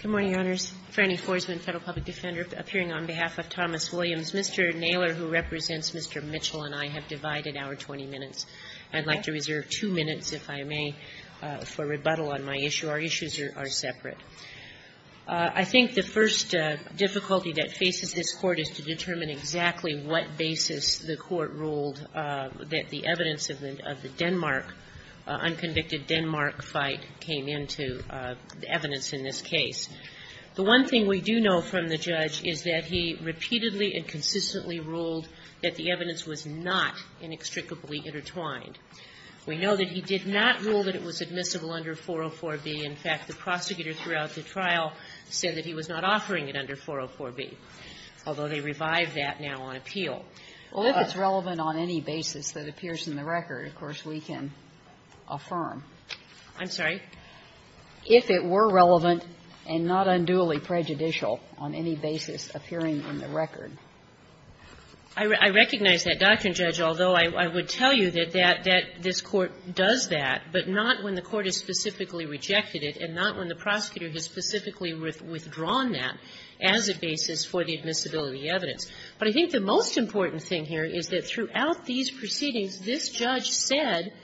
Good morning, Your Honors. Frannie Forsman, Federal Public Defender, appearing on behalf of Thomas Williams. Mr. Naylor, who represents Mr. Mitchell and I, have divided our 20 minutes. I'd like to reserve two minutes, if I may, for rebuttal on my issue. Our issues are separate. I think the first difficulty that faces this Court is to determine exactly what basis the Court ruled that the evidence of the Denmark, unconvicted Denmark fight, came into the evidence in this case. The one thing we do know from the judge is that he repeatedly and consistently ruled that the evidence was not inextricably intertwined. We know that he did not rule that it was admissible under 404b. In fact, the prosecutor throughout the trial said that he was not offering it under 404b, although they revived that now on appeal. Well, if it's relevant on any basis that appears in the record, of course, we can affirm. I'm sorry? If it were relevant and not unduly prejudicial on any basis appearing in the record. I recognize that, Dr. Judge, although I would tell you that this Court does that, but not when the Court has specifically rejected it and not when the prosecutor has specifically withdrawn that as a basis for the admissibility evidence. But I think the most important thing here is that throughout these proceedings, this judge said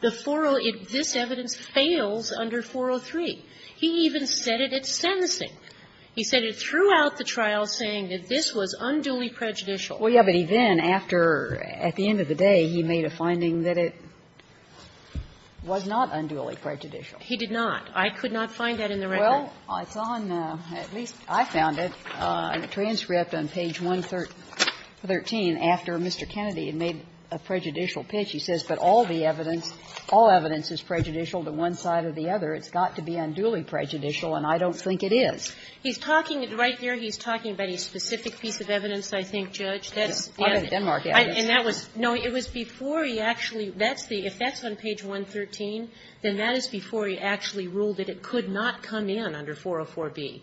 the 403, this evidence fails under 403. He even said it at sentencing. He said it throughout the trial saying that this was unduly prejudicial. Well, yeah, but he then, after, at the end of the day, he made a finding that it was not unduly prejudicial. He did not. I could not find that in the record. Well, it's on, at least I found it, in a transcript on page 113 after Mr. Kennedy had made a prejudicial pitch. He says, but all the evidence, all evidence is prejudicial to one side or the other. It's got to be unduly prejudicial, and I don't think it is. He's talking, right there, he's talking about a specific piece of evidence, I think, Judge. That's and that was, no, it was before he actually, that's the, if that's on page 113, then that is before he actually ruled that it could not come in under 404b.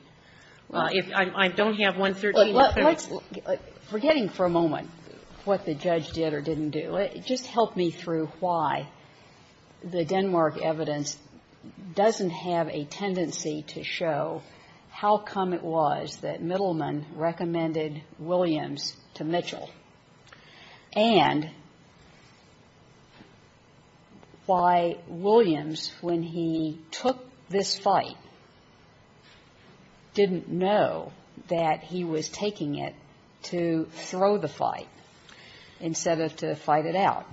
If I don't have 113. Well, let's, forgetting for a moment what the judge did or didn't do, just help me through why the Denmark evidence doesn't have a tendency to show how come it was that Middleman recommended Williams to Mitchell, and why Williams, when he took this fight, didn't know that he was taking it to throw the fight instead of to fight it out.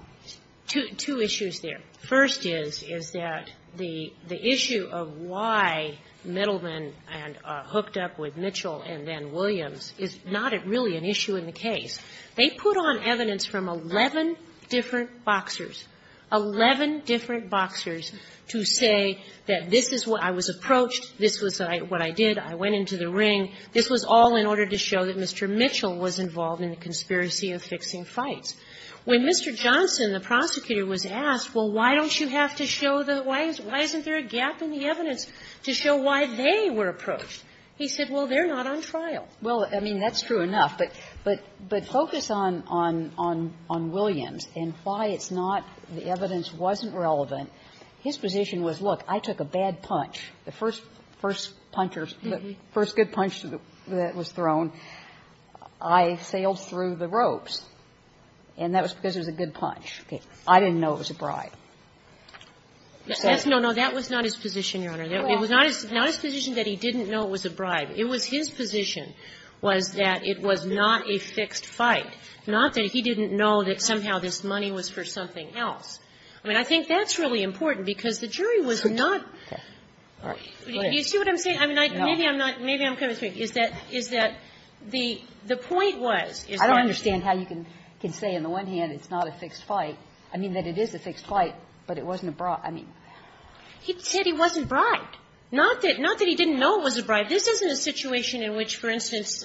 Two issues there. First is, is that the issue of why Middleman hooked up with Mitchell and then Williams is not really an issue in the case. They put on evidence from 11 different boxers, 11 different boxers, to say that this is what, I was approached, this was what I did, I went into the ring. This was all in order to show that Mr. Mitchell was involved in the conspiracy of fixing fights. When Mr. Johnson, the prosecutor, was asked, well, why don't you have to show the why, why isn't there a gap in the evidence to show why they were approached, he said, well, they're not on trial. Well, I mean, that's true enough, but focus on Williams and why it's not, the evidence wasn't relevant. His position was, look, I took a bad punch, the first puncher, the first good punch that was thrown, I sailed through the ropes. And that was because it was a good punch. I didn't know it was a bribe. He said that. No, no, that was not his position, Your Honor. It was not his position that he didn't know it was a bribe. It was his position was that it was not a fixed fight, not that he didn't know that somehow this money was for something else. I mean, I think that's really important, because the jury was not. Do you see what I'm saying? I mean, maybe I'm not, maybe I'm kind of mistaken, is that, is that the point was is I don't understand how you can say on the one hand it's not a fixed fight, I mean, that it is a fixed fight, but it wasn't a bribe. I mean, he said he wasn't bribed, not that he didn't know it was a bribe. This isn't a situation in which, for instance,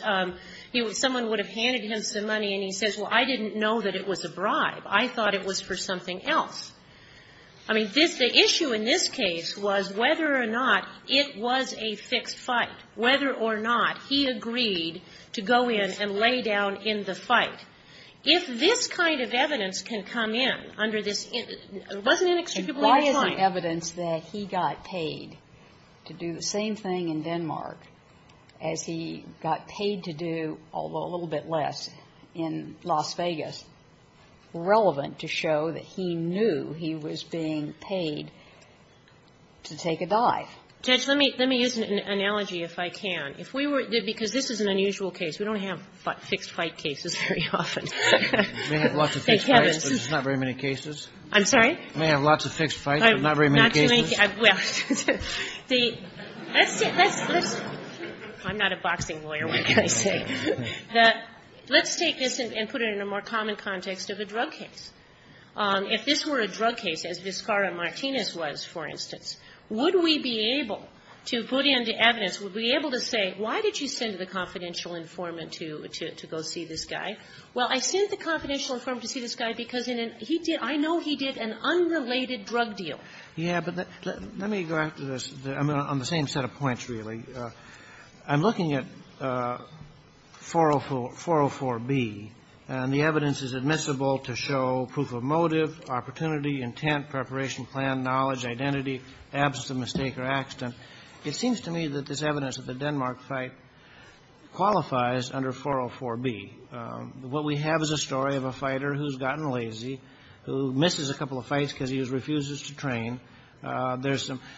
someone would have handed him some money and he says, well, I didn't know that it was a bribe. I thought it was for something else. I mean, the issue in this case was whether or not it was a fixed fight, whether or not he agreed to go in and lay down in the fight. If this kind of evidence can come in under this, wasn't it extremely refined? Why isn't evidence that he got paid to do the same thing in Denmark as he got paid to do, although a little bit less, in Las Vegas, relevant to show that he knew he was being paid to take a dive? Judge, let me use an analogy, if I can. If we were to do this, because this is an unusual case. We don't have fixed fight cases very often. Thank heavens. Kennedy, but there's not very many cases. I'm sorry? We have lots of fixed fights, but not very many cases. Well, the – I'm not a boxing lawyer, what can I say? Let's take this and put it in a more common context of a drug case. If this were a drug case, as Vizcarra-Martinez was, for instance, would we be able to put in the evidence, would we be able to say, why did you send the confidential informant to go see this guy? Well, I sent the confidential informant to see this guy because he did – I know he did an unrelated drug deal. Yeah, but let me go back to this. I'm on the same set of points, really. I'm looking at 404B, and the evidence is admissible to show proof of motive, opportunity, intent, preparation, plan, knowledge, identity, absence of mistake or accident. It seems to me that this evidence that the Denmark fight qualifies under 404B. What we have is a story of a fighter who's gotten lazy, who misses a couple of fights because he refuses to train. There's some –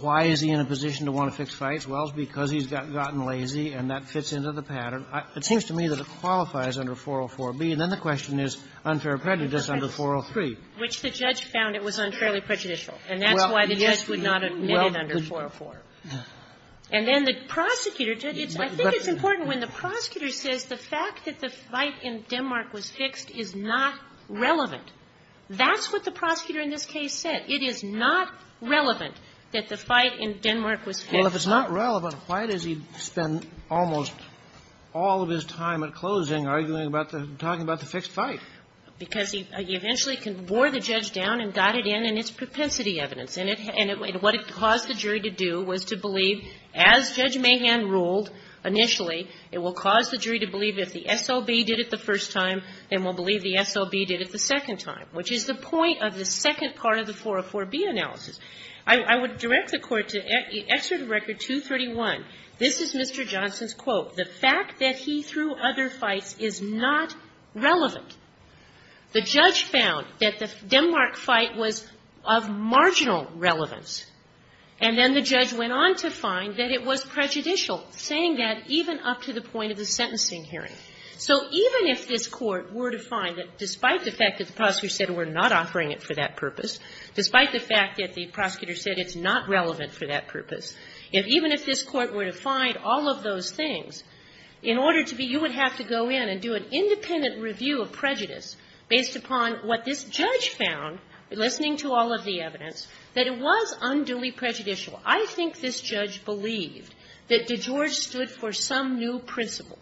why is he in a position to want to fix fights? Well, it's because he's gotten lazy, and that fits into the pattern. It seems to me that it qualifies under 404B. And then the question is unfair prejudice under 403. Which the judge found it was unfairly prejudicial. And that's why the judge would not admit it under 404. And then the prosecutor – I think it's important when the prosecutor says the fact that the fight in Denmark was fixed is not relevant. That's what the prosecutor in this case said. It is not relevant that the fight in Denmark was fixed. Well, if it's not relevant, why does he spend almost all of his time at closing arguing about the – talking about the fixed fight? Because he eventually wore the judge down and got it in, and it's propensity evidence. And what it caused the jury to do was to believe, as Judge Mahan ruled initially, it will cause the jury to believe if the SLB did it the first time, then we'll believe the SLB did it the second time. Which is the point of the second part of the 404B analysis. I would direct the Court to Excerpt of Record 231. This is Mr. Johnson's quote. The fact that he threw other fights is not relevant. The judge found that the Denmark fight was of marginal relevance. And then the judge went on to find that it was prejudicial, saying that even up to the point of the sentencing hearing. So even if this Court were to find that despite the fact that the prosecutor said we're not offering it for that purpose, despite the fact that the prosecutor said it's not relevant for that purpose, if even if this Court were to find all of those things, in order to be – you would have to go in and do an independent review of prejudice based upon what this judge found, listening to all of the evidence, that it was unduly prejudicial. I think this judge believed that DeGeorge stood for some new principle,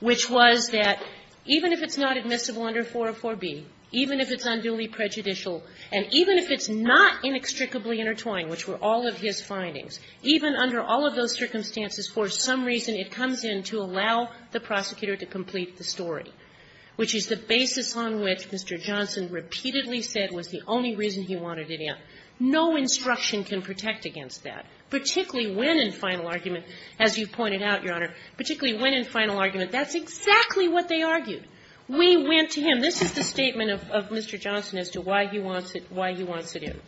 which was that even if it's not admissible under 404B, even if it's unduly prejudicial, and even if it's not inextricably intertwined, which were all of his findings, even under all of those circumstances, for some reason it comes in to allow the prosecutor to complete the story, which is the basis on which Mr. Johnson repeatedly said was the only reason he wanted it in. No instruction can protect against that, particularly when in final argument, as you've pointed out, Your Honor, particularly when in final argument, that's exactly what they argued. We went to him. This is the statement of Mr. Johnson as to why he wants it in.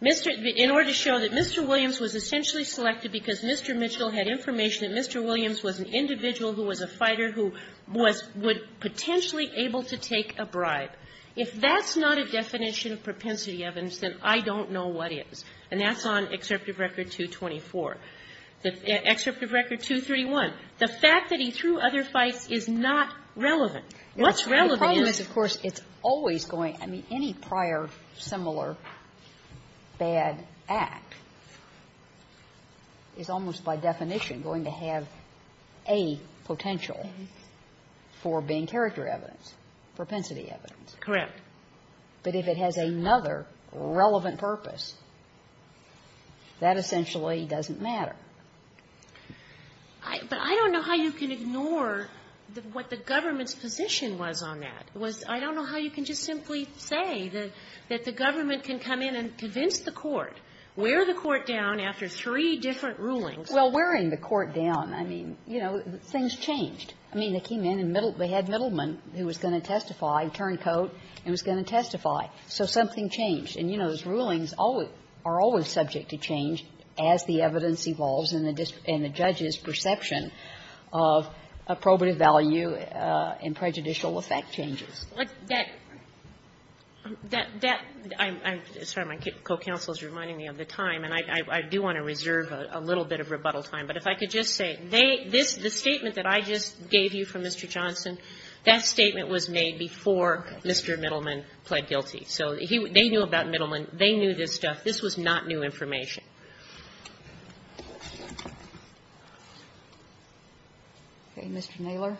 Mr. – in order to show that Mr. Williams was essentially selected because Mr. Mitchell had information that Mr. Williams was an individual who was a fighter who was – would potentially able to take a bribe. If that's not a definition of propensity evidence, then I don't know what is. And that's on Excerptive Record 224. Excerptive Record 231, the fact that he threw other fights is not relevant. What's relevant is – Kagan. The problem is, of course, it's always going – I mean, any prior similar bad act is almost by definition going to have a potential for being character evidence, propensity evidence. Correct. But if it has another relevant purpose, that essentially doesn't matter. But I don't know how you can ignore what the government's position was on that. It was, I don't know how you can just simply say that the government can come in and convince the court, wear the court down after three different rulings. Well, wearing the court down, I mean, you know, things changed. I mean, they came in and they had Middleman, who was going to testify, turncoat and was going to testify. So something changed. And, you know, those rulings are always subject to change as the evidence evolves and the judge's perception of probative value and prejudicial effect changes. That – that – I'm sorry, my co-counsel is reminding me of the time, and I do want to reserve a little bit of rebuttal time. But if I could just say, they – this, the statement that I just gave you from Mr. Johnson, that statement was made before Mr. Middleman pled guilty. So he – they knew about Middleman. They knew this stuff. This was not new information. Okay. Mr. Naylor.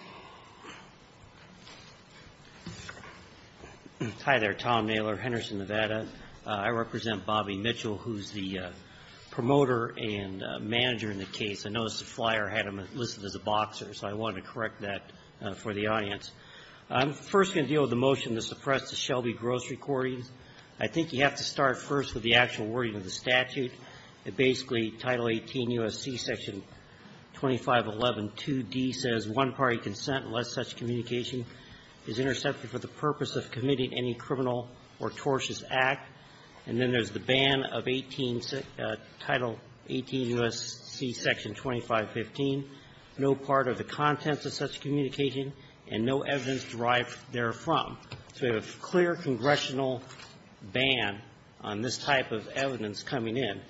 Hi there. Tom Naylor, Henderson, Nevada. I represent Bobby Mitchell, who's the promoter and manager in the case. I noticed the flyer had him listed as a boxer, so I wanted to correct that for the audience. I'm first going to deal with the motion to suppress the Shelby gross recordings. I think you have to start first with the actual wording of the statute. It basically, Title 18 U.S.C. Section 25112d says, So we have a clear congressional ban on this type of evidence coming in.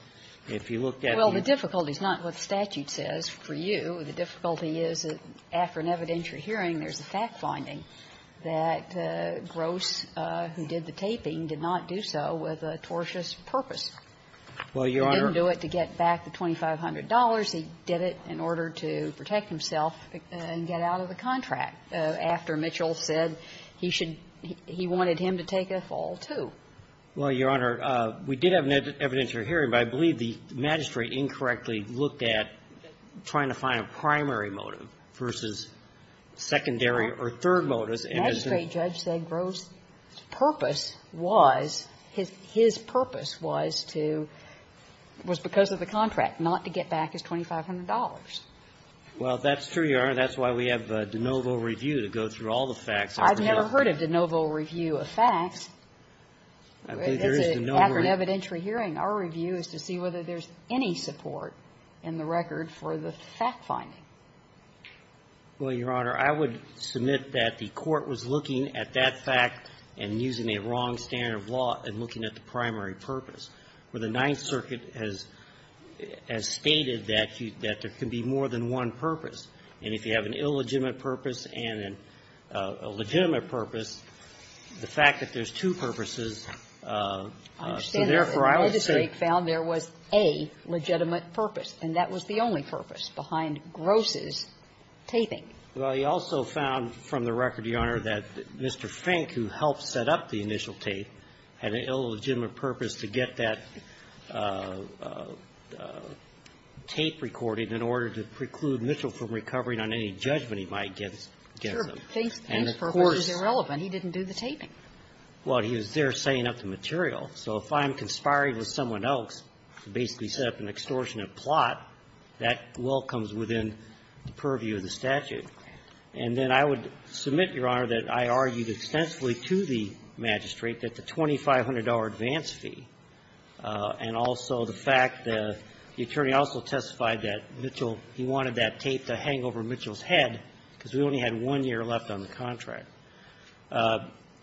If you look at the — Well, the difficulty is not what the statute says for you. The difficulty is that after an evidentiary hearing, there's a fact-finding that Gross, who did the taping, did not do so with a tortious purpose. Well, Your Honor — He didn't do it to get back the $2,500. He did it in order to protect himself and get out of the contract, after Mitchell said he should — he wanted him to take a fall, too. Well, Your Honor, we did have an evidentiary hearing, but I believe the magistrate incorrectly looked at trying to find a primary motive versus secondary or third motives, and as the — The magistrate judge said Gross' purpose was, his purpose was to — was because of the contract, not to get back his $2,500. Well, that's true, Your Honor. That's why we have de novo review to go through all the facts. I've never heard of de novo review of facts. I believe there is de novo review. In the evidentiary hearing, our review is to see whether there's any support in the record for the fact-finding. Well, Your Honor, I would submit that the Court was looking at that fact and using a wrong standard of law in looking at the primary purpose, where the Ninth Circuit has — has stated that you — that there can be more than one purpose, and if you have an illegitimate purpose and a legitimate purpose, the fact that there's two purposes I understand that the magistrate found there was a legitimate purpose, and that was the only purpose behind Gross' taping. Well, he also found, from the record, Your Honor, that Mr. Fink, who helped set up the initial tape, had an illegitimate purpose to get that tape recording in order to preclude Mitchell from recovering on any judgment he might give them. And of course — Sure. Fink's purpose was irrelevant. He didn't do the taping. Well, he was there setting up the material. So if I'm conspiring with someone else to basically set up an extortionate plot, that well comes within the purview of the statute. And then I would submit, Your Honor, that I argued extensively to the magistrate that the $2,500 advance fee and also the fact that the attorney also testified that Mitchell — he wanted that tape to hang over Mitchell's head because we only had one year left on the contract.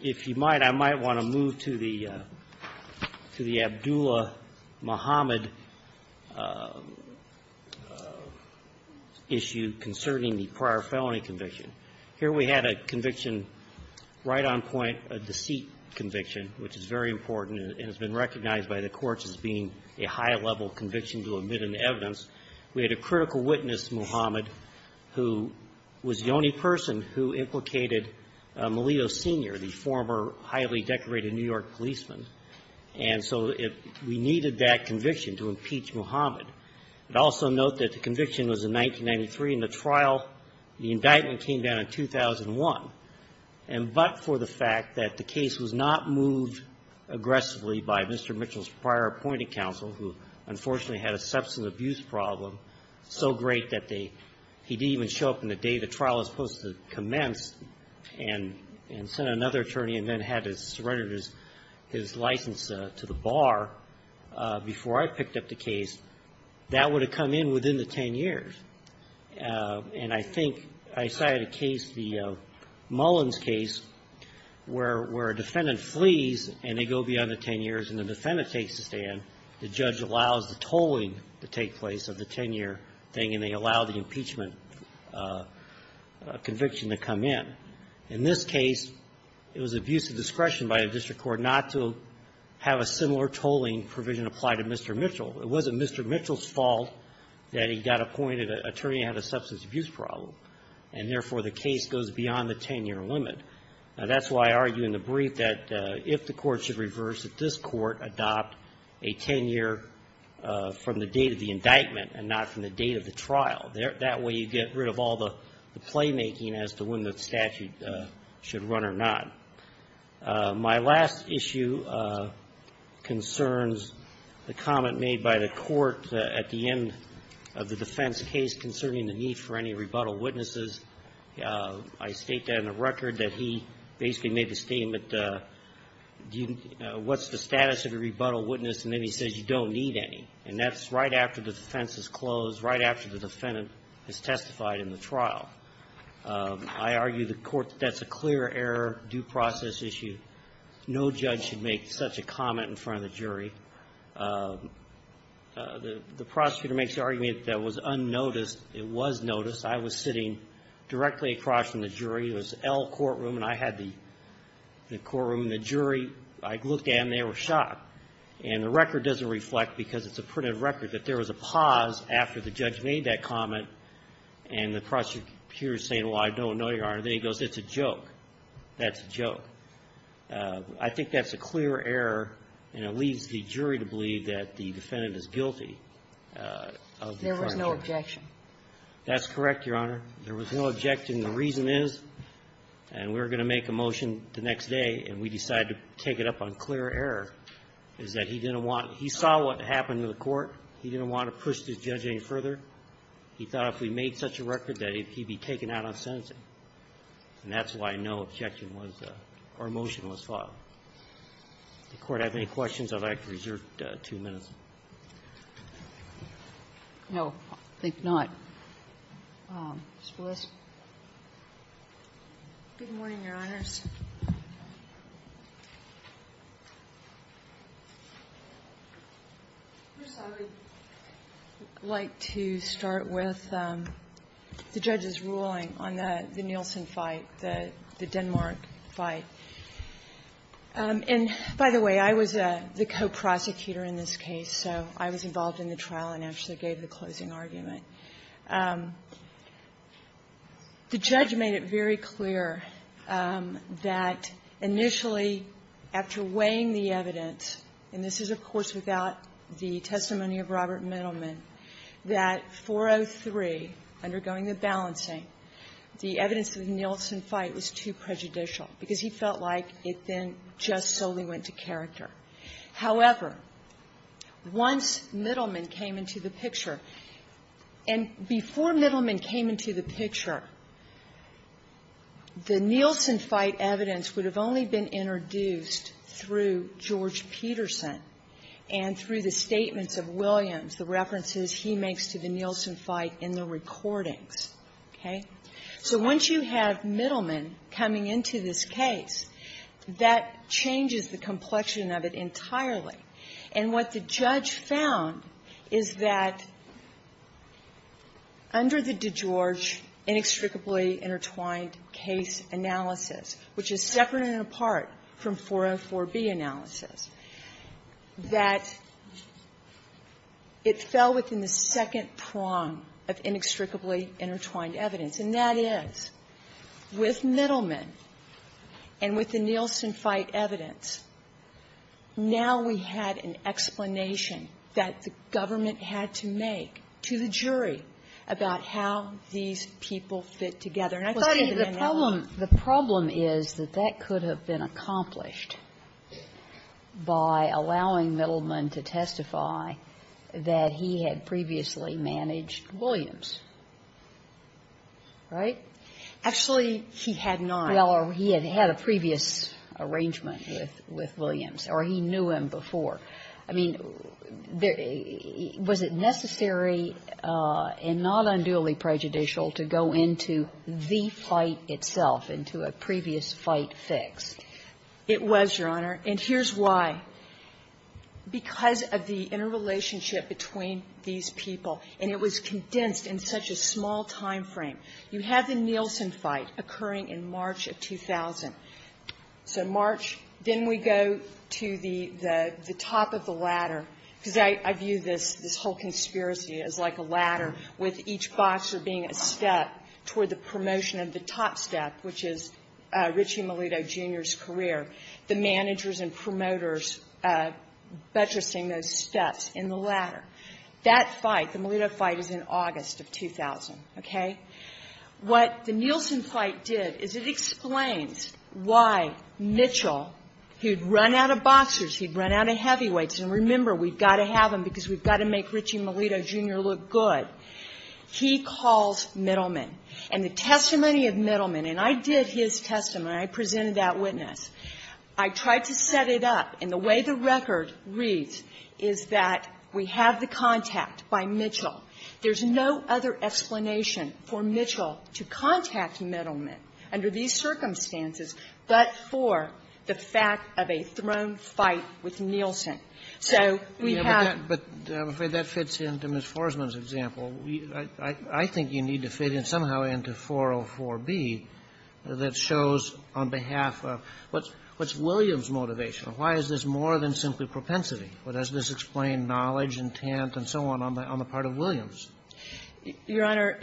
If you might, I might want to move to the — to the Abdullah-Muhammad issue concerning the prior felony conviction. Here we had a conviction right on point, a deceit conviction, which is very important and has been recognized by the courts as being a high-level conviction to omit an evidence. We had a critical witness, Muhammad, who was the only person who implicated Melillo, Sr., the former highly decorated New York policeman. And so we needed that conviction to impeach Muhammad. But also note that the conviction was in 1993, and the trial — the indictment came down in 2001, but for the fact that the case was not moved aggressively by Mr. Mitchell's prior appointing counsel, who, unfortunately, had a substance abuse problem so great that they — he didn't even show up on the day the trial was supposed to commence and sent another attorney and then had to surrender his license to the bar before I picked up the case, that would have come in within the 10 years. And I think — I cited a case, the Mullins case, where a defendant flees, and they go beyond the 10 years, and the defendant takes the stand. The judge allows the tolling to take place of the 10-year thing, and they allow the impeachment conviction to come in. In this case, it was abuse of discretion by a district court not to have a similar tolling provision apply to Mr. Mitchell. It wasn't Mr. Mitchell's fault that he got appointed an attorney who had a substance abuse problem, and therefore, the case goes beyond the 10-year limit. That's why I argue in the brief that if the court should reverse, that this court adopt a 10-year from the date of the indictment and not from the date of the trial. That way, you get rid of all the playmaking as to when the statute should run or not. My last issue concerns the comment made by the court at the end of the defense case concerning the need for any rebuttal witnesses. I state that in the record, that he basically made the statement, what's the status of a rebuttal witness, and then he says, you don't need any. And that's right after the defense is closed, right after the defendant has testified in the trial. I argue the court, that's a clear error, due process issue. No judge should make such a comment in front of the jury. The prosecutor makes the argument that it was unnoticed. It was noticed. I was sitting directly across from the jury. It was L courtroom, and I had the courtroom and the jury. I looked at them. They were shocked. And the record doesn't reflect, because it's a printed record, that there was a pause after the judge made that comment, and the prosecutor is saying, well, I don't know, Your Honor. Then he goes, it's a joke. That's a joke. I think that's a clear error, and it leaves the jury to believe that the defendant is guilty of the infringement. There was no objection. That's correct, Your Honor. There was no objection. The reason is, and we're going to make a motion the next day, and we decide to take it up on clear error, is that he didn't want to – he saw what happened to the court. He didn't want to push the judge any further. He thought if we made such a record that he'd be taken out on sentencing. And that's why no objection was – or motion was filed. Does the Court have any questions? I'd like to reserve two minutes. No, I think not. Ms. Willis. Good morning, Your Honors. First, I would like to start with the judge's ruling on the Nielsen fight, the Denmark fight. And, by the way, I was the co-prosecutor in this case, so I was involved in the trial and actually gave the closing argument. The judge made it very clear that initially, after weighing the evidence, and this is, of course, without the testimony of Robert Middleman, that 403, undergoing the balancing, the evidence of the Nielsen fight was too prejudicial because he felt like it then just solely went to character. However, once Middleman came into the picture, and before Middleman came into the picture, the Nielsen fight evidence would have only been introduced through George Peterson and through the statements of Williams, the references he makes to the Nielsen fight in the recordings. Okay? So once you have Middleman coming into this case, that changes the complexion of it entirely. And what the judge found is that under the DeGeorge inextricably intertwined case analysis, which is separate and apart from 404B analysis, that it fell within the second prong of inextricably intertwined evidence. And that is, with Middleman and with the Nielsen fight evidence, now we had an explanation that the government had to make to the jury about how these people fit together. And I think that in that way the problem is that that could have been accomplished by allowing Middleman to testify that he had previously managed Williams. Right? Actually, he had not. Well, he had had a previous arrangement with Williams, or he knew him before. I mean, was it necessary and not unduly prejudicial to go into the fight itself, into a previous fight fixed? It was, Your Honor. And here's why. Because of the interrelationship between these people, and it was condensed in such a small time frame. You have the Nielsen fight occurring in March of 2000. So March. Then we go to the top of the ladder, because I view this whole conspiracy as like a ladder, with each boxer being a step toward the promotion of the top step, which is Richie Melito, Jr.'s career. The managers and promoters buttressing those steps in the ladder. That fight, the Melito fight, is in August of 2000. Okay? What the Nielsen fight did is it explains why Mitchell, who'd run out of boxers, he'd run out of heavyweights, and remember, we've got to have him because we've got to make Richie Melito, Jr. look good. He calls Middleman. And the testimony of Middleman, and I did his testimony. I presented that witness. I tried to set it up. And the way the record reads is that we have the contact by Mitchell. There's no other explanation for Mitchell to contact Middleman under these circumstances but for the fact of a thrown fight with Nielsen. So we have to be careful. And that's what I'm trying to get at here, is that there's no other way to get into 404B that shows on behalf of what's Williams' motivation, or why is this more than simply propensity, or does this explain knowledge, intent, and so on, on the part of Williams? Your Honor,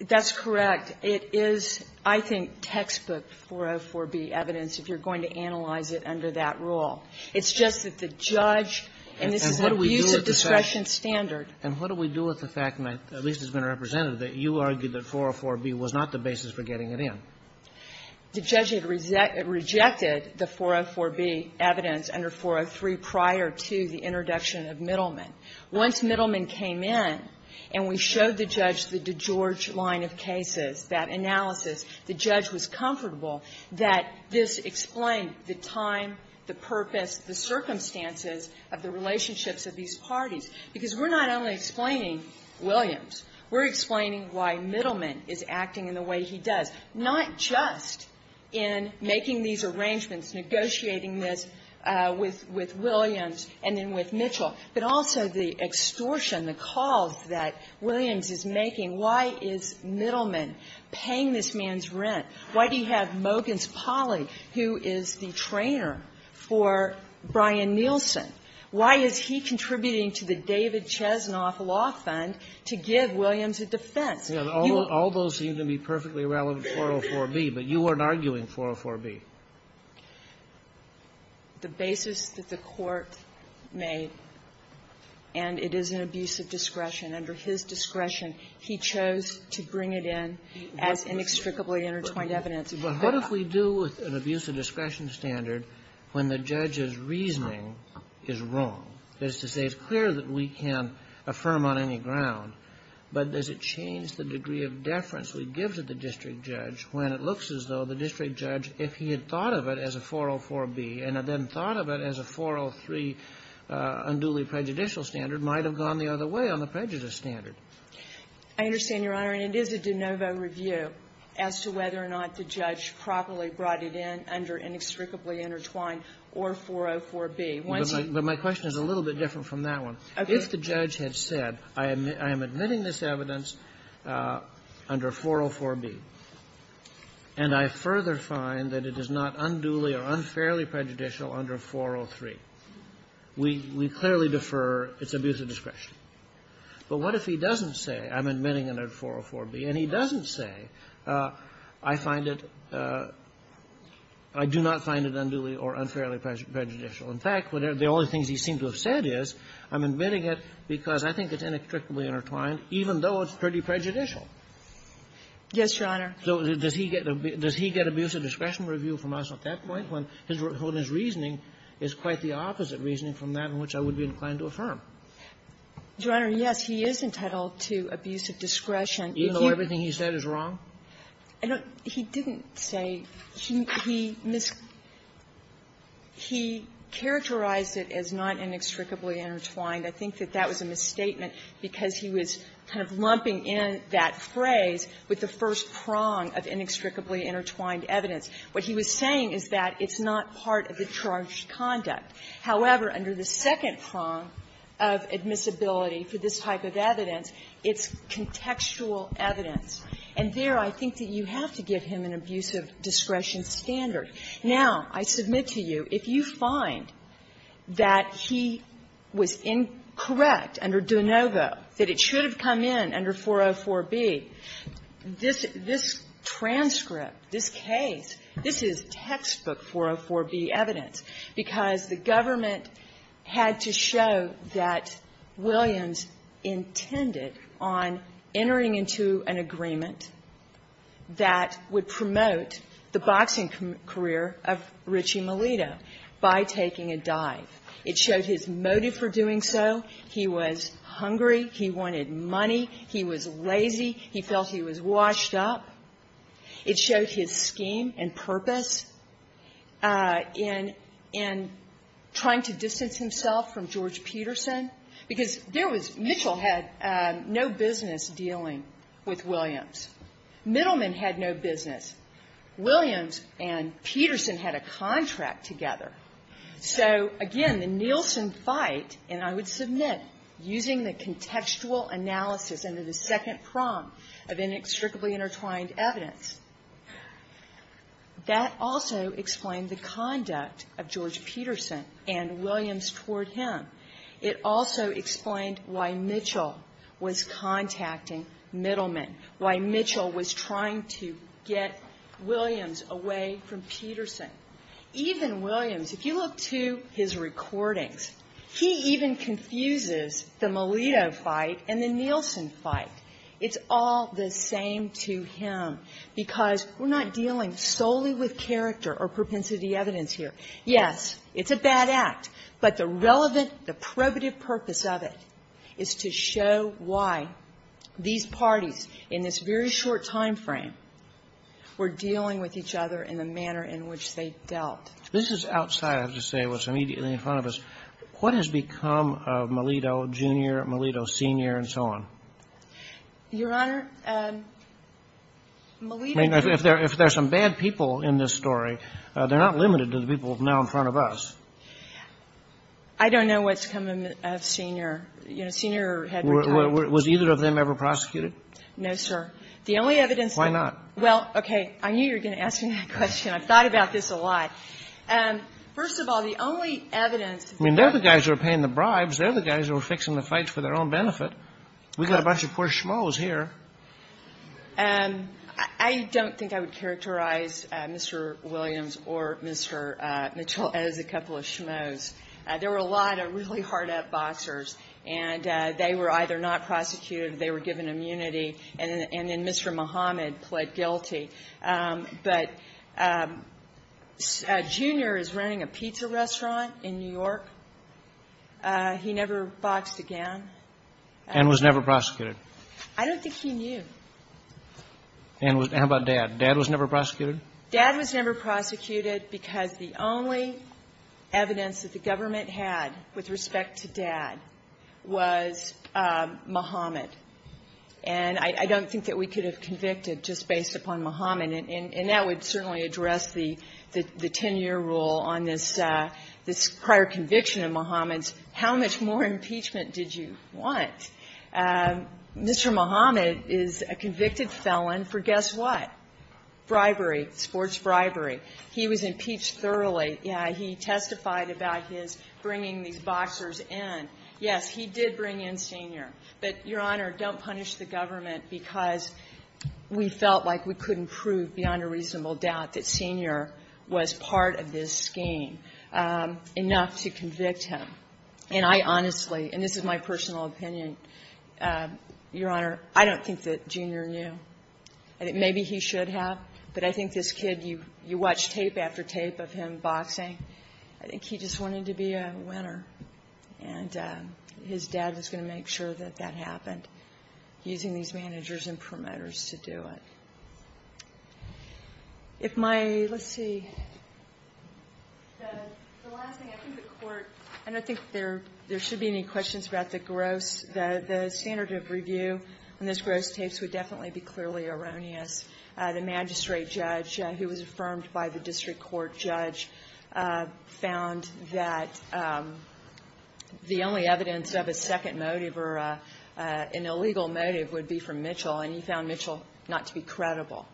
that's correct. It is, I think, textbook 404B evidence if you're going to analyze it under that rule. It's just that the judge and this is an abuse of discretion standard. And what do we do with the fact, and at least it's been represented, that you argued that 404B was not the basis for getting it in? The judge had rejected the 404B evidence under 403 prior to the introduction of Middleman. Once Middleman came in and we showed the judge the DeGeorge line of cases, that analysis, the judge was comfortable that this explained the time, the purpose, the circumstances of the relationships of these parties. Because we're not only explaining Williams. We're explaining why Middleman is acting in the way he does, not just in making these arrangements, negotiating this with Williams and then with Mitchell, but also the extortion, the calls that Williams is making. Why is Middleman paying this man's rent? Why do you have Mogens Polly, who is the trainer for Brian Nielsen? Why is he contributing to the David Chesnoff Law Fund to give Williams a defense? You will be able to explain that. All those seem to be perfectly relevant to 404B, but you weren't arguing 404B. The basis that the Court made, and it is an abuse of discretion, under his discretion, he chose to bring it in as inextricably intertwined evidence. Kennedy. But what if we do an abuse of discretion standard when the judge's reasoning is wrong? That is to say, it's clear that we can affirm on any ground, but does it change the degree of deference we give to the district judge when it looks as though the district judge, if he had thought of it as a 404B and then thought of it as a 403 unduly prejudicial standard, might have gone the other way on the prejudice standard? I understand, Your Honor. And it is a de novo review as to whether or not the judge properly brought it in under inextricably intertwined or 404B. Once he ---- But my question is a little bit different from that one. Okay. If the judge had said, I am admitting this evidence under 404B, and I further find that it is not unduly or unfairly prejudicial under 403, we clearly defer its abuse of discretion. But what if he doesn't say, I'm admitting it under 404B, and he doesn't say, I find it ---- I do not find it unduly or unfairly prejudicial. In fact, the only things he seemed to have said is, I'm admitting it because I think it's inextricably intertwined, even though it's pretty prejudicial. Yes, Your Honor. So does he get abuse of discretion review from us at that point when his reasoning is quite the opposite reasoning from that in which I would be inclined to affirm? Your Honor, yes, he is entitled to abuse of discretion. Even though everything he said is wrong? I don't ---- he didn't say ---- he characterized it as not inextricably intertwined. I think that that was a misstatement because he was kind of lumping in that phrase with the first prong of inextricably intertwined evidence. What he was saying is that it's not part of the charged conduct. However, under the second prong of admissibility for this type of evidence, it's contextual evidence. And there, I think that you have to give him an abuse of discretion standard. Now, I submit to you, if you find that he was incorrect under De Novo, that it should have come in under 404B, this transcript, this case, this is textbook 404B evidence because the government had to show that Williams intended on entering into an agreement that would promote the boxing career of Richie Melito by taking a dive. It showed his motive for doing so. He was hungry. He wanted money. He was lazy. He felt he was washed up. It showed his scheme and purpose in trying to distance himself from George Peterson because there was ---- Mitchell had no business dealing with Williams. Middleman had no business. Williams and Peterson had a contract together. So, again, the Nielsen fight, and I would submit, using the contextual analysis under the second prong of inextricably intertwined evidence, that also explained the conduct of George Peterson and Williams toward him. It also explained why Mitchell was contacting Middleman, why Mitchell was trying to get Williams away from Peterson. Even Williams, if you look to his recordings, he even confuses the Melito fight and the Nielsen fight. It's all the same to him because we're not dealing solely with character or propensity evidence here. Yes, it's a bad act, but the relevant, the probative purpose of it is to show why these parties in this very short timeframe were dealing with each other in the manner in which they dealt. This is outside, I have to say, what's immediately in front of us. What has become of Melito, Jr., Melito, Sr., and so on? Your Honor, Melito ---- If there are some bad people in this story, they're not limited to the people now in front of us. I don't know what's become of Sr. Sr. had returned. Was either of them ever prosecuted? No, sir. The only evidence ---- Why not? Well, okay. I knew you were going to ask me that question. I've thought about this a lot. First of all, the only evidence ---- I mean, they're the guys who are paying the bribes. They're the guys who are fixing the fights for their own benefit. We've got a bunch of poor schmoes here. I don't think I would characterize Mr. Williams or Mr. Mitchell as a couple of schmoes. There were a lot of really hard-up boxers, and they were either not prosecuted or they were given immunity, and then Mr. Muhammad pled guilty. But Jr. is running a pizza restaurant in New York. He never boxed again. And was never prosecuted. I don't think he knew. And how about Dad? Dad was never prosecuted? Dad was never prosecuted because the only evidence that the government had with respect to Dad was Muhammad. And I don't think that we could have convicted just based upon Muhammad. And that would certainly address the 10-year rule on this prior conviction of Muhammad's. How much more impeachment did you want? Mr. Muhammad is a convicted felon for guess what? Bribery. Sports bribery. He was impeached thoroughly. He testified about his bringing these boxers in. Yes, he did bring in Sr. But, Your Honor, don't punish the government because we felt like we couldn't prove beyond a reasonable doubt that Sr. was part of this scheme enough to convict him. And I honestly, and this is my personal opinion, Your Honor, I don't think that Jr. knew. Maybe he should have. But I think this kid, you watch tape after tape of him boxing. I think he just wanted to be a winner. And his dad was going to make sure that that happened using these managers and promoters to do it. If my, let's see, the last thing, I think the court, I don't think there should be any questions about the gross, the standard of review on this gross case would definitely be clearly erroneous. The magistrate judge, who was affirmed by the district court judge, found that the only evidence of a second motive or an illegal motive would be from Mitchell, and he found Mitchell not to be credible.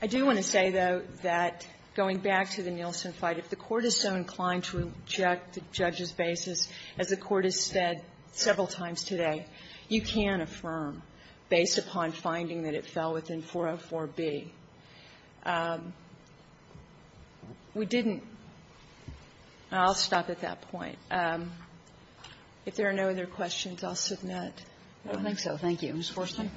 I do want to say, though, that going back to the Nielsen fight, if the court is so inclined to reject the judge's basis, as the court has said several times today, you can affirm, based upon finding that it fell within 404B. We didn't. I'll stop at that point. If there are no other questions, I'll submit. Kagan. I don't think so. Thank you. Ms. Forsman.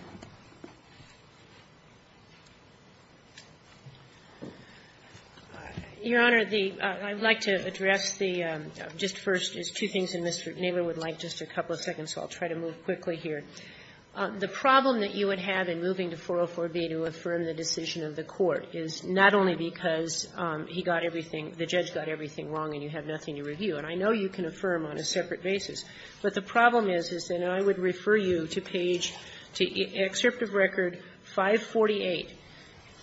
Your Honor, the – I'd like to address the – just first, there's two things that Mr. Naylor would like, just a couple of seconds, so I'll try to move quickly here. The problem that you would have in moving to 404B to affirm the decision of the court is not only because he got everything, the judge got everything wrong and you have nothing to review, and I know you can affirm on a separate basis, but the problem is, and I would refer you to page, to excerpt of record 548,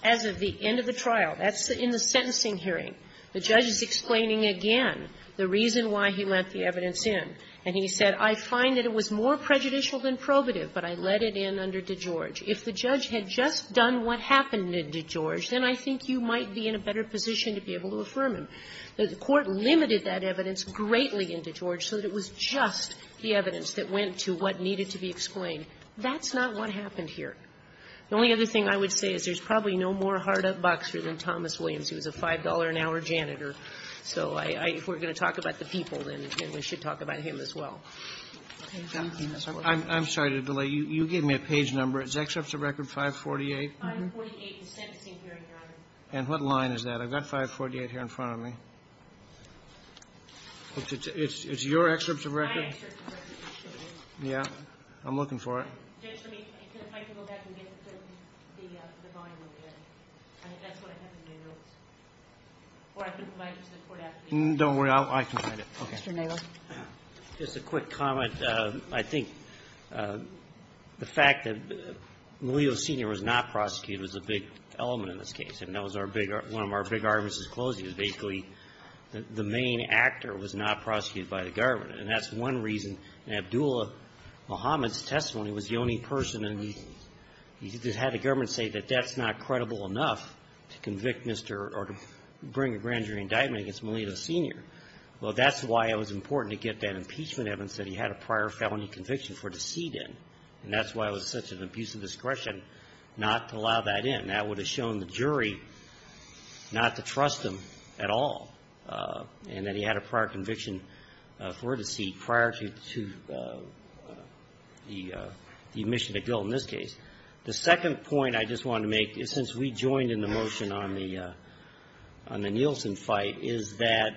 as of the end of the trial, that's in the sentencing hearing, the judge is explaining again the reason why he lent the evidence in, and he said, I find that it was more prejudicial than probative, but I let it in under DeGeorge. If the judge had just done what happened in DeGeorge, then I think you might be in a better position to be able to affirm him. The court limited that evidence greatly in DeGeorge so that it was just the evidence that went to what needed to be explained. That's not what happened here. The only other thing I would say is there's probably no more hard-up boxer than Thomas Williams. He was a $5-an-hour janitor. So if we're going to talk about the people, then we should talk about him as well. I'm sorry to delay. You gave me a page number. Is excerpt of record 548? 548 in sentencing hearing. And what line is that? I've got 548 here in front of me. It's your excerpt of record? My excerpt of record. Yeah. I'm looking for it. Judge, if I could go back and get the volume again. That's what I have in my notes. Don't worry. I can find it. Mr. Naylor. Just a quick comment. I think the fact that Malieu Sr. was not prosecuted was a big element in this case. And that was our big one of our big arguments in closing is basically the main actor was not prosecuted by the government. And that's one reason. In Abdullah Mohammed's testimony, he was the only person and he had the government say that that's not credible enough to convict Mr. or to bring a grand jury indictment against Malieu Sr. Well, that's why it was important to get that impeachment evidence that he had a prior felony conviction for deceit in. And that's why it was such an abuse of discretion not to allow that in. That would have shown the jury not to trust him at all and that he had a prior conviction for deceit prior to the admission to guilt in this case. The second point I just want to make, since we joined in the motion on the Nielsen fight, is that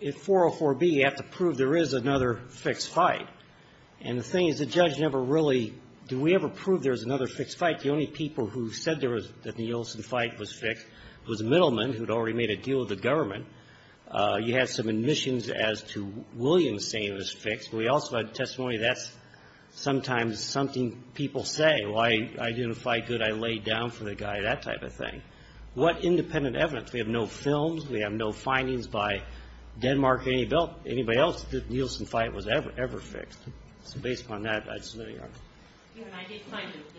in 404B, you have to prove there is another fixed fight. And the thing is the judge never really, do we ever prove there's another fixed fight? The only people who said there was a Nielsen fight was fixed was Middleman, who had already made a deal with the government. You had some admissions as to Williams saying it was fixed. We also had testimony that's sometimes something people say, well, I didn't fight good, I laid down for the guy, that type of thing. What independent evidence? We have no films. We have no findings by Denmark or anybody else that the Nielsen fight was ever fixed. 18-20. 18-20.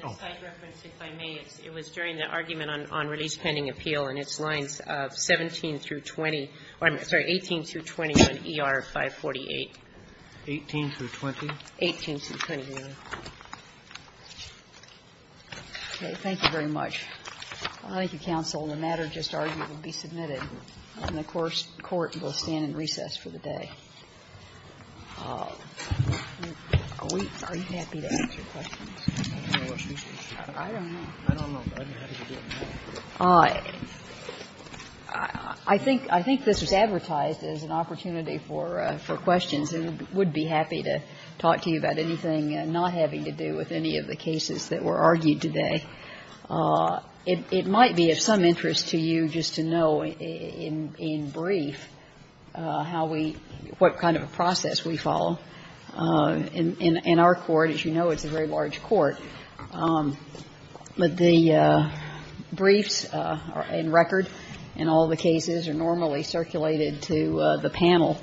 Okay. Thank you very much. Thank you, counsel. The matter just argued will be submitted. And the court will stand in recess for the day. Are you happy to answer questions? I don't know. I don't know, but I'd be happy to do it now. I think this was advertised as an opportunity for questions. I would be happy to talk to you about anything not having to do with any of the cases that were argued today. It might be of some interest to you just to know in brief how we, what kind of a process we follow. In our court, as you know, it's a very large court. But the briefs are in record, and all the cases are normally circulated to the panel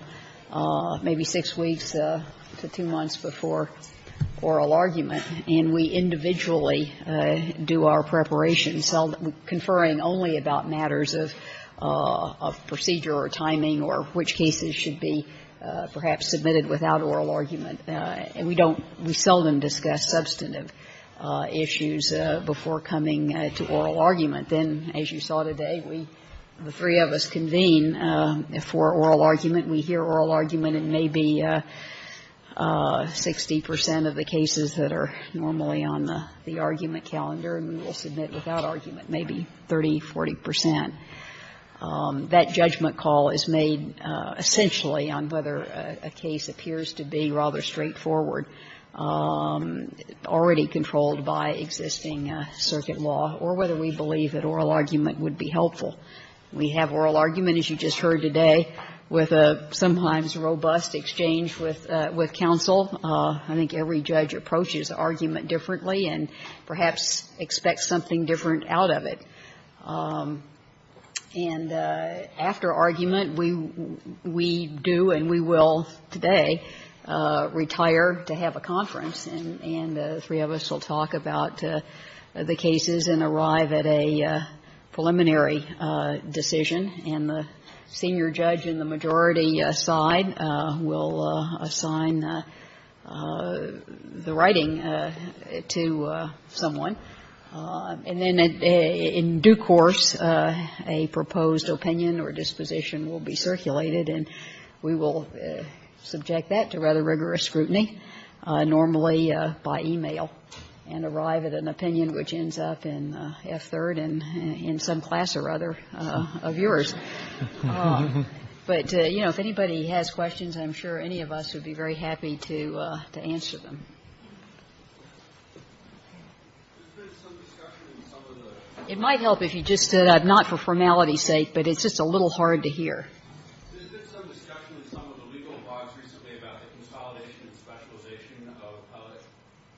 maybe six weeks to two months before oral argument. And we individually do our preparation, conferring only about matters of procedure or timing or which cases should be perhaps submitted without oral argument. And we don't, we seldom discuss substantive issues before coming to oral argument. Then, as you saw today, we, the three of us convene for oral argument. We hear oral argument in maybe 60 percent of the cases that are normally on the argument calendar, and we will submit without argument maybe 30, 40 percent. That judgment call is made essentially on whether a case appears to be rather straightforward, already controlled by existing circuit law, or whether we believe that oral argument would be helpful. We have oral argument, as you just heard today, with a sometimes robust exchange with counsel. I think every judge approaches argument differently and perhaps expects something different out of it. And after argument, we do and we will today retire to have a conference, and the three of us will talk about the cases and arrive at a preliminary decision. And the senior judge in the majority side will assign the writing to someone. And then in due course, a proposed opinion or disposition will be circulated, and we will subject that to rather rigorous scrutiny, normally by e-mail, and arrive at an opinion which ends up in F-3rd and in some class or other of yours. But, you know, if anybody has questions, I'm sure any of us would be very happy to answer them. There's been some discussion in some of the It might help if you just said, not for formality's sake, but it's just a little hard to hear. There's been some discussion in some of the legal blogs recently about the consolidation and specialization of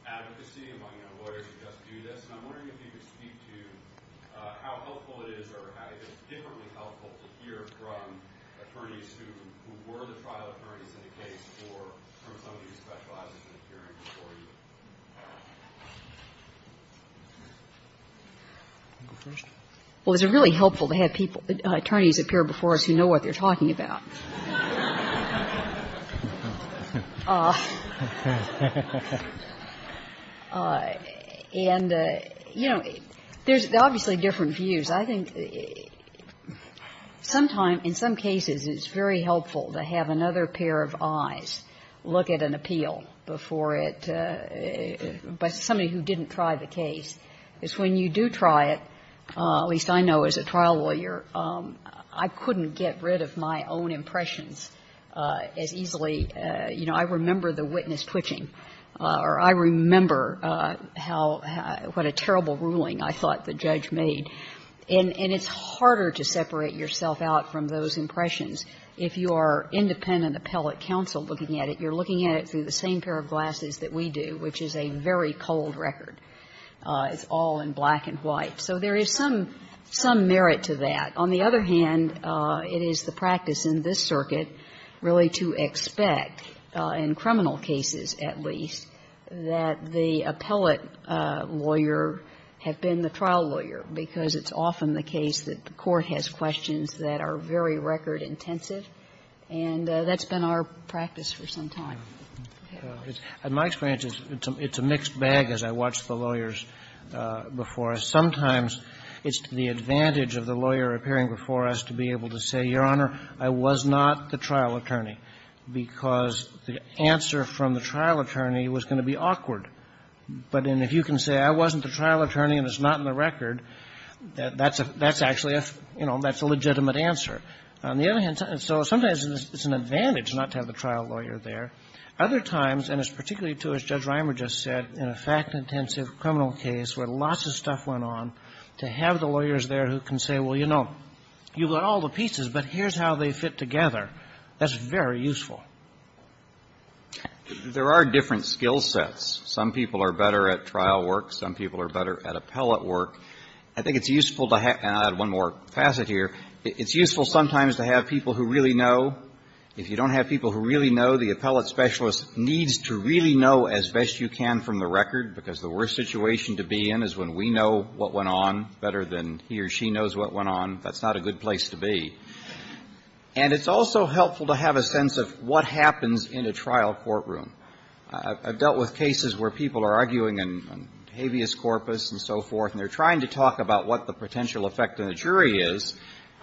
advocacy among lawyers who just do this, and I'm wondering if you could speak to how helpful it is or how it is differently helpful to hear from Well, it's really helpful to have people, attorneys appear before us who know what they're talking about. And, you know, there's obviously different views. I think sometimes, in some cases, it's very helpful to have another pair of eyes look at an appeal before it by somebody who didn't try the case, because when you do try it, at least I know as a trial lawyer, I couldn't get rid of my own impressions as easily. You know, I remember the witness twitching, or I remember how what a terrible ruling I thought the judge made. And it's harder to separate yourself out from those impressions. If you are independent appellate counsel looking at it, you're looking at it through the same pair of glasses that we do, which is a very cold record. It's all in black and white. So there is some merit to that. On the other hand, it is the practice in this circuit really to expect, in criminal cases at least, that the appellate lawyer have been the trial lawyer, because it's often the case that the court has questions that are very record intensive. And that's been our practice for some time. Kennedy. In my experience, it's a mixed bag as I watch the lawyers before us. Sometimes it's to the advantage of the lawyer appearing before us to be able to say, Your Honor, I was not the trial attorney, because the answer from the trial attorney was going to be awkward. But if you can say I wasn't the trial attorney and it's not in the record, that's actually a, you know, that's a legitimate answer. On the other hand, sometimes it's an advantage not to have the trial lawyer there. Other times, and it's particularly true, as Judge Reimer just said, in a fact-intensive criminal case where lots of stuff went on, to have the lawyers there who can say, Well, you know, you've got all the pieces, but here's how they fit together. That's very useful. There are different skill sets. Some people are better at trial work. Some people are better at appellate work. I think it's useful to have one more facet here. It's useful sometimes to have people who really know. If you don't have people who really know, the appellate specialist needs to really know as best you can from the record, because the worst situation to be in is when we know what went on better than he or she knows what went on. That's not a good place to be. And it's also helpful to have a sense of what happens in a trial courtroom. I've dealt with cases where people are arguing on habeas corpus and so forth, and they're trying to talk about what the potential effect on the jury is,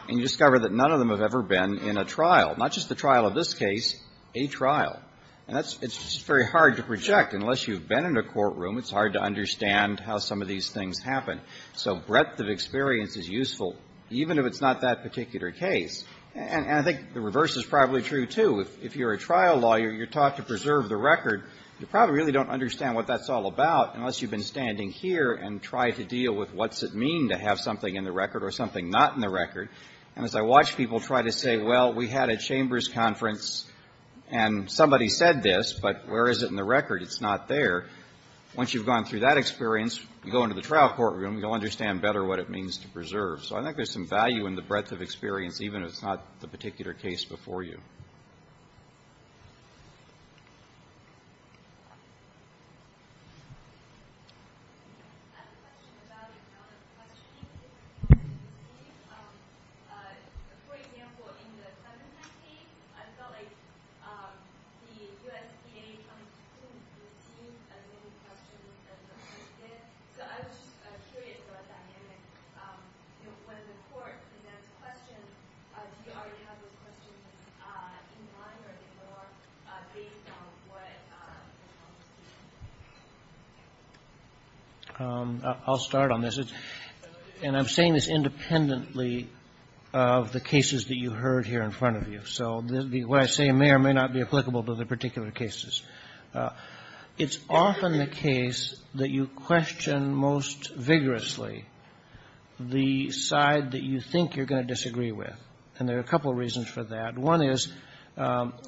and you discover that none of them have ever been in a trial, not just the trial of this case, a trial. And that's just very hard to project. Unless you've been in a courtroom, it's hard to understand how some of these things happen. So breadth of experience is useful, even if it's not that particular case. And I think the reverse is probably true, too. If you're a trial lawyer, you're taught to preserve the record. You probably really don't understand what that's all about unless you've been standing here and try to deal with what's it mean to have something in the record or something not in the record. And as I watch people try to say, well, we had a chambers conference, and somebody said this, but where is it in the record? It's not there. Once you've gone through that experience, you go into the trial courtroom, you'll understand better what it means to preserve. So I think there's some value in the breadth of experience, even if it's not the particular case before you. Yes? I have a question about the kind of questioning people receive. For example, in the Clementine case, I felt like the USDA coming to court received as many questions as the court did. So I was just curious about that. You know, when the court, in that question, do you already have those questions in mind I'll start on this. And I'm saying this independently of the cases that you heard here in front of you. So what I say may or may not be applicable to the particular cases. It's often the case that you question most vigorously the side that you think you're going to disagree with. And there are a couple of reasons for that. One is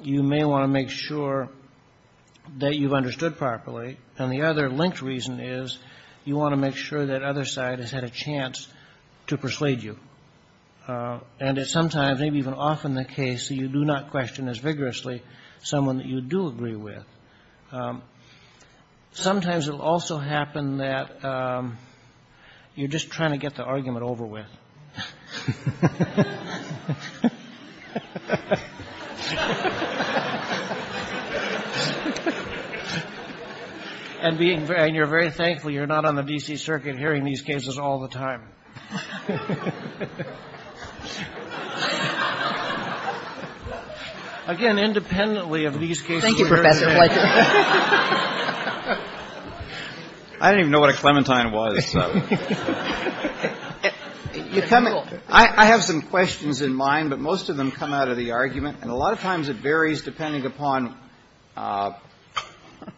you may want to make sure that you've understood properly. And the other linked reason is you want to make sure that other side has had a chance to persuade you. And it's sometimes, maybe even often the case that you do not question as vigorously someone that you do agree with. Sometimes it will also happen that you're just trying to get the argument over with. And you're very thankful you're not on the D.C. Circuit hearing these cases all the time. Again, independently of these cases. Thank you, Professor. I didn't even know what a Clementine was. I have some questions in mind, but most of them come out of the argument. And a lot of times it varies depending upon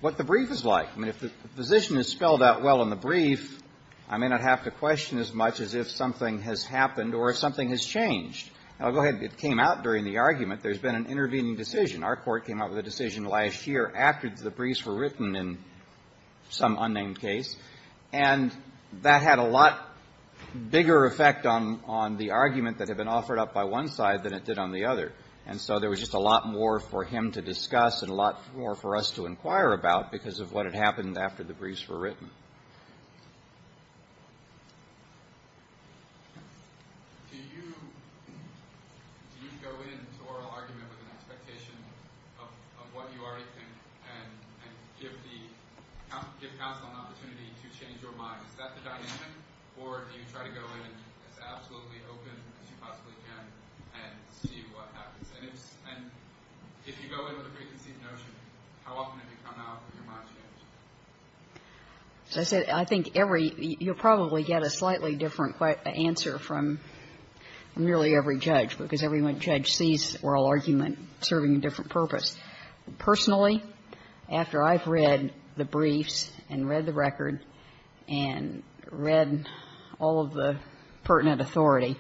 what the brief is like. I mean, if the position is spelled out well in the brief, I may not have to question as much as if something has happened or if something has changed. I'll go ahead. It came out during the argument. There's been an intervening decision. Our court came out with a decision last year after the briefs were written in some unnamed case. And that had a lot bigger effect on the argument that had been offered up by one side than it did on the other. And so there was just a lot more for him to discuss and a lot more for us to inquire about because of what had happened after the briefs were written. Do you go into oral argument with an expectation of what you already think and give counsel an opportunity to change your mind? Is that the dynamic? Or do you try to go in as absolutely open as you possibly can and see what happens? And if you go in with a preconceived notion, how often have you come out with your mind changed? So I said I think every you'll probably get a slightly different answer from nearly every judge because every judge sees oral argument serving a different purpose. Personally, after I've read the briefs and read the record and read all of the pertinent authority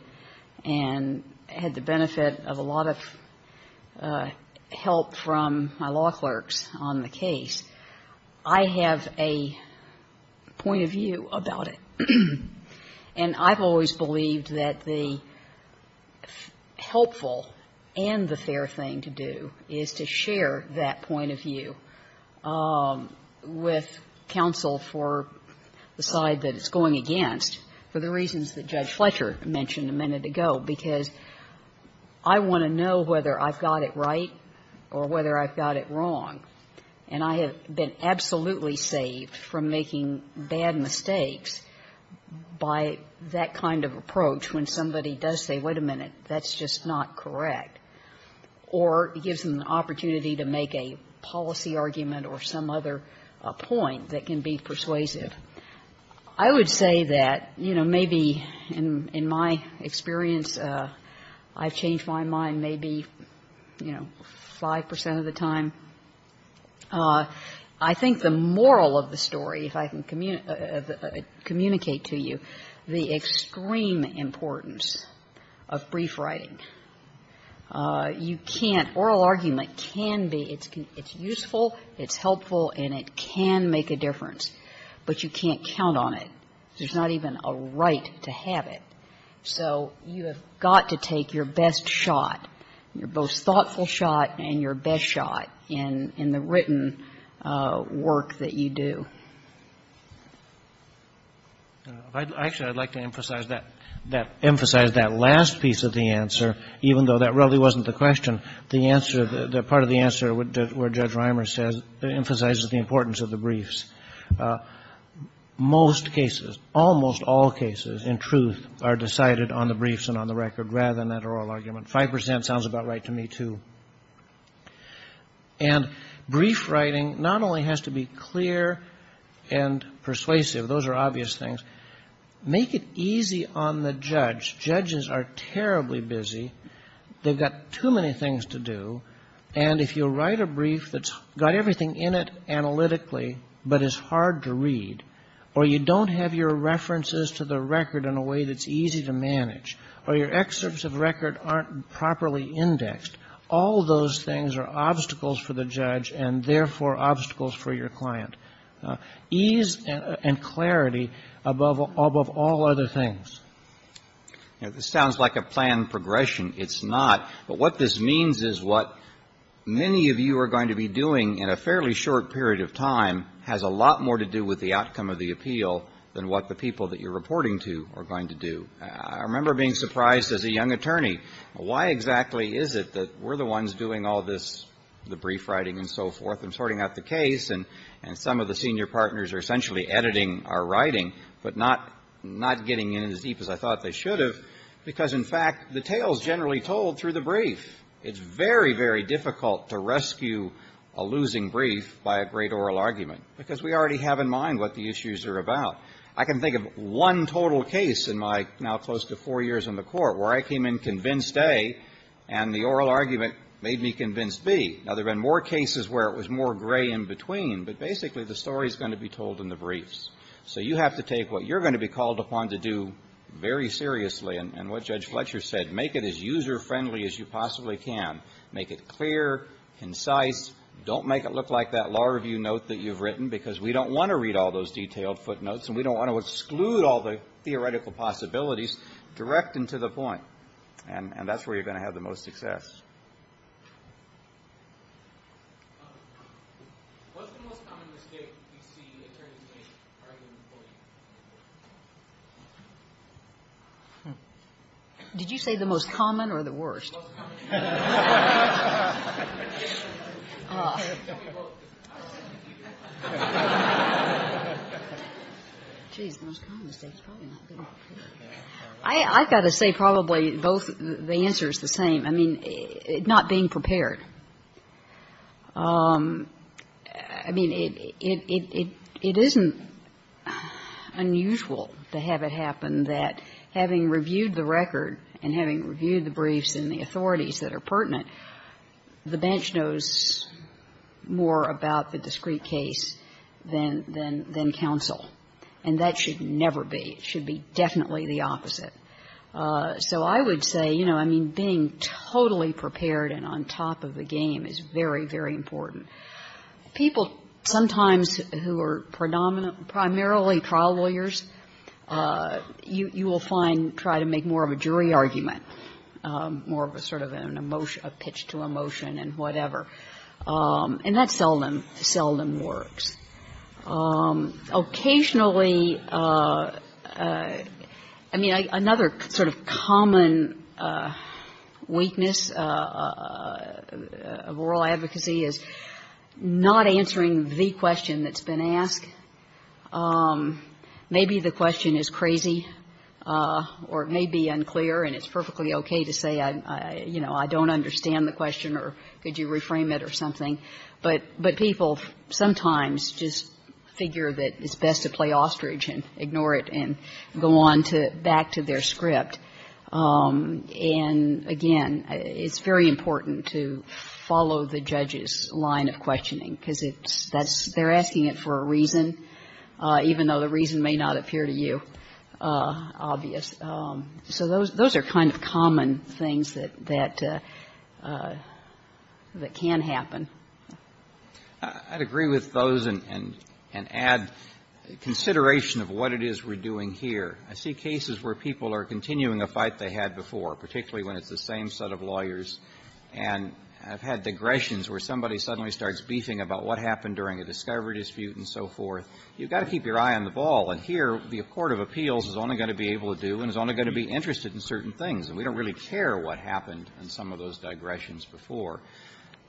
and had the benefit of a lot of help from my law clerks on the case, I have a point of view about it. And I've always believed that the helpful and the fair thing to do is to share that point of view with counsel for the side that it's going against for the reasons that Judge Fletcher mentioned a minute ago, because I want to know whether I've got it right or whether I've got it wrong. And I have been absolutely saved from making bad mistakes by that kind of approach when somebody does say, wait a minute, that's just not correct, or gives them an opportunity to make a policy argument or some other point that can be persuasive. I would say that, you know, maybe in my experience, I've changed my mind maybe, you know, a little bit. I think the moral of the story, if I can communicate to you, the extreme importance of brief writing. You can't – oral argument can be – it's useful, it's helpful, and it can make a difference, but you can't count on it. There's not even a right to have it. So you have got to take your best shot, your most thoughtful shot and your best shot in the written work that you do. Actually, I'd like to emphasize that last piece of the answer, even though that really wasn't the question. The answer, the part of the answer where Judge Reimer emphasizes the importance of the briefs. Most cases, almost all cases, in truth, are decided on the briefs and on the record rather than that oral argument. Five percent sounds about right to me, too. And brief writing not only has to be clear and persuasive. Those are obvious things. Make it easy on the judge. Judges are terribly busy. They've got too many things to do. And if you write a brief that's got everything in it analytically but is hard to read, or you don't have your references to the record in a way that's easy to manage, or your references are not properly indexed, all those things are obstacles for the judge and therefore obstacles for your client. Ease and clarity above all other things. This sounds like a planned progression. It's not. But what this means is what many of you are going to be doing in a fairly short period of time has a lot more to do with the outcome of the appeal than what the people that you're reporting to are going to do. I remember being surprised as a young attorney, why exactly is it that we're the ones doing all this, the brief writing and so forth, and sorting out the case, and some of the senior partners are essentially editing our writing but not getting in as deep as I thought they should have, because, in fact, the tale is generally told through the brief. It's very, very difficult to rescue a losing brief by a great oral argument, because we already have in mind what the issues are about. I can think of one total case in my now close to four years in the court where I came in convinced A, and the oral argument made me convinced B. Now, there have been more cases where it was more gray in between, but basically the story is going to be told in the briefs. So you have to take what you're going to be called upon to do very seriously, and what Judge Fletcher said, make it as user-friendly as you possibly can. Make it clear, concise. Don't make it look like that law review note that you've written, because we don't want to read all those detailed footnotes, and we don't want to exclude all the theoretical possibilities direct and to the point. And that's where you're going to have the most success. What's the most common mistake you see attorneys make arguing a point? Did you say the most common or the worst? The most common. Tell me both. Geez, the most common mistake is probably not being clear. I've got to say probably both the answer is the same. I mean, not being prepared. I mean, it isn't unusual to have it happen that having reviewed the record and having reviewed the briefs and the authorities that are pertinent, the bench knows more about the discrete case than counsel. And that should never be. It should be definitely the opposite. So I would say, you know, I mean, being totally prepared and on top of the game is very, very important. People sometimes who are predominant, primarily trial lawyers, you will find try to make more of a jury argument, more of a sort of an emotion, a pitch to emotion and whatever. And that seldom, seldom works. Occasionally, I mean, another sort of common weakness of oral advocacy is not answering the question that's been asked. Maybe the question is crazy or it may be unclear, and it's perfectly okay to say, you know, I don't understand the question or could you reframe it or something. But people sometimes just figure that it's best to play ostrich and ignore it and go on to back to their script. And again, it's very important to follow the judge's line of questioning because it's that's they're asking it for a reason, even though the reason may not appear to you obvious. So those are kind of common things that can happen. I'd agree with those and add consideration of what it is we're doing here. I see cases where people are continuing a fight they had before, particularly when it's the same set of lawyers. And I've had digressions where somebody suddenly starts beefing about what happened during a discovery dispute and so forth. You've got to keep your eye on the ball. And here, the court of appeals is only going to be able to do and is only going to be interested in certain things. And we don't really care what happened in some of those digressions before.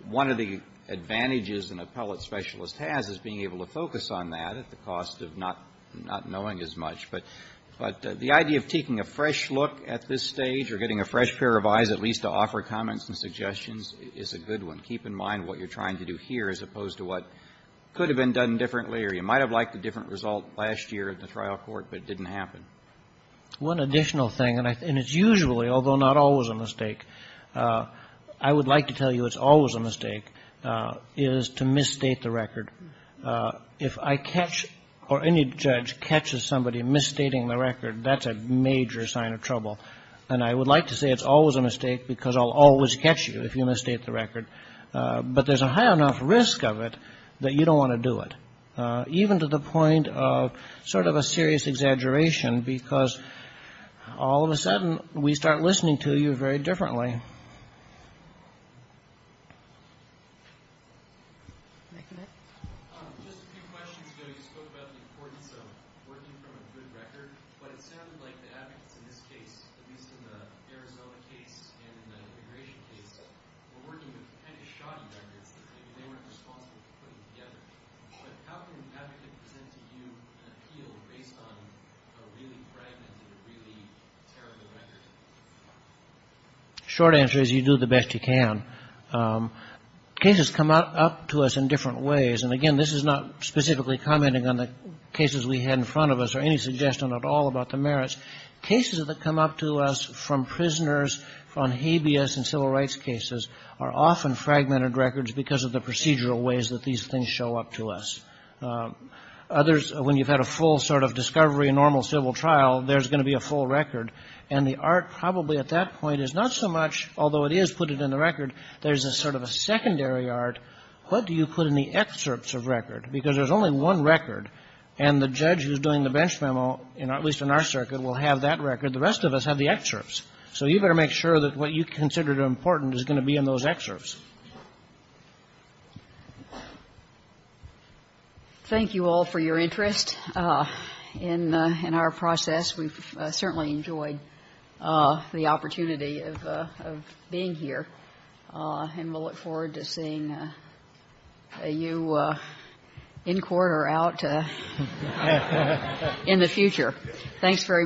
One of the advantages an appellate specialist has is being able to focus on that at the cost of not knowing as much. But the idea of taking a fresh look at this stage or getting a fresh pair of eyes at least to offer comments and suggestions is a good one. Keep in mind what you're trying to do here as opposed to what could have been done differently or you might have liked a different result last year in the trial court but it didn't happen. One additional thing, and it's usually, although not always, a mistake. I would like to tell you it's always a mistake is to misstate the record. If I catch or any judge catches somebody misstating the record, that's a major sign of trouble. And I would like to say it's always a mistake because I'll always catch you if you misstate the record. But there's a high enough risk of it that you don't want to do it. Even to the point of sort of a serious exaggeration because all of a sudden we start listening to you very differently. Yes, ma'am. Just a few questions ago you spoke about the importance of working from a good record. But it sounded like the advocates in this case, at least in the Arizona case and in the immigration case, were working with kind of shoddy records that maybe they weren't responsible for putting together. But how can an advocate present to you an appeal based on a really fragmented, really terrible record? Short answer is you do the best you can. Cases come up to us in different ways. And, again, this is not specifically commenting on the cases we had in front of us or any suggestion at all about the merits. Cases that come up to us from prisoners on habeas and civil rights cases are often fragmented records because of the procedural ways that these things show up to us. Others, when you've had a full sort of discovery, a normal civil trial, there's going to be a full record. And the art probably at that point is not so much, although it is put it in the record, there's a sort of a secondary art. What do you put in the excerpts of record? Because there's only one record. And the judge who's doing the bench memo, at least in our circuit, will have that record. The rest of us have the excerpts. So you better make sure that what you consider important is going to be in those excerpts. Thank you all for your interest in our process. We've certainly enjoyed the opportunity of being here. And we'll look forward to seeing you in court or out in the future. Thanks very much. Thank you for your attention. Thank you.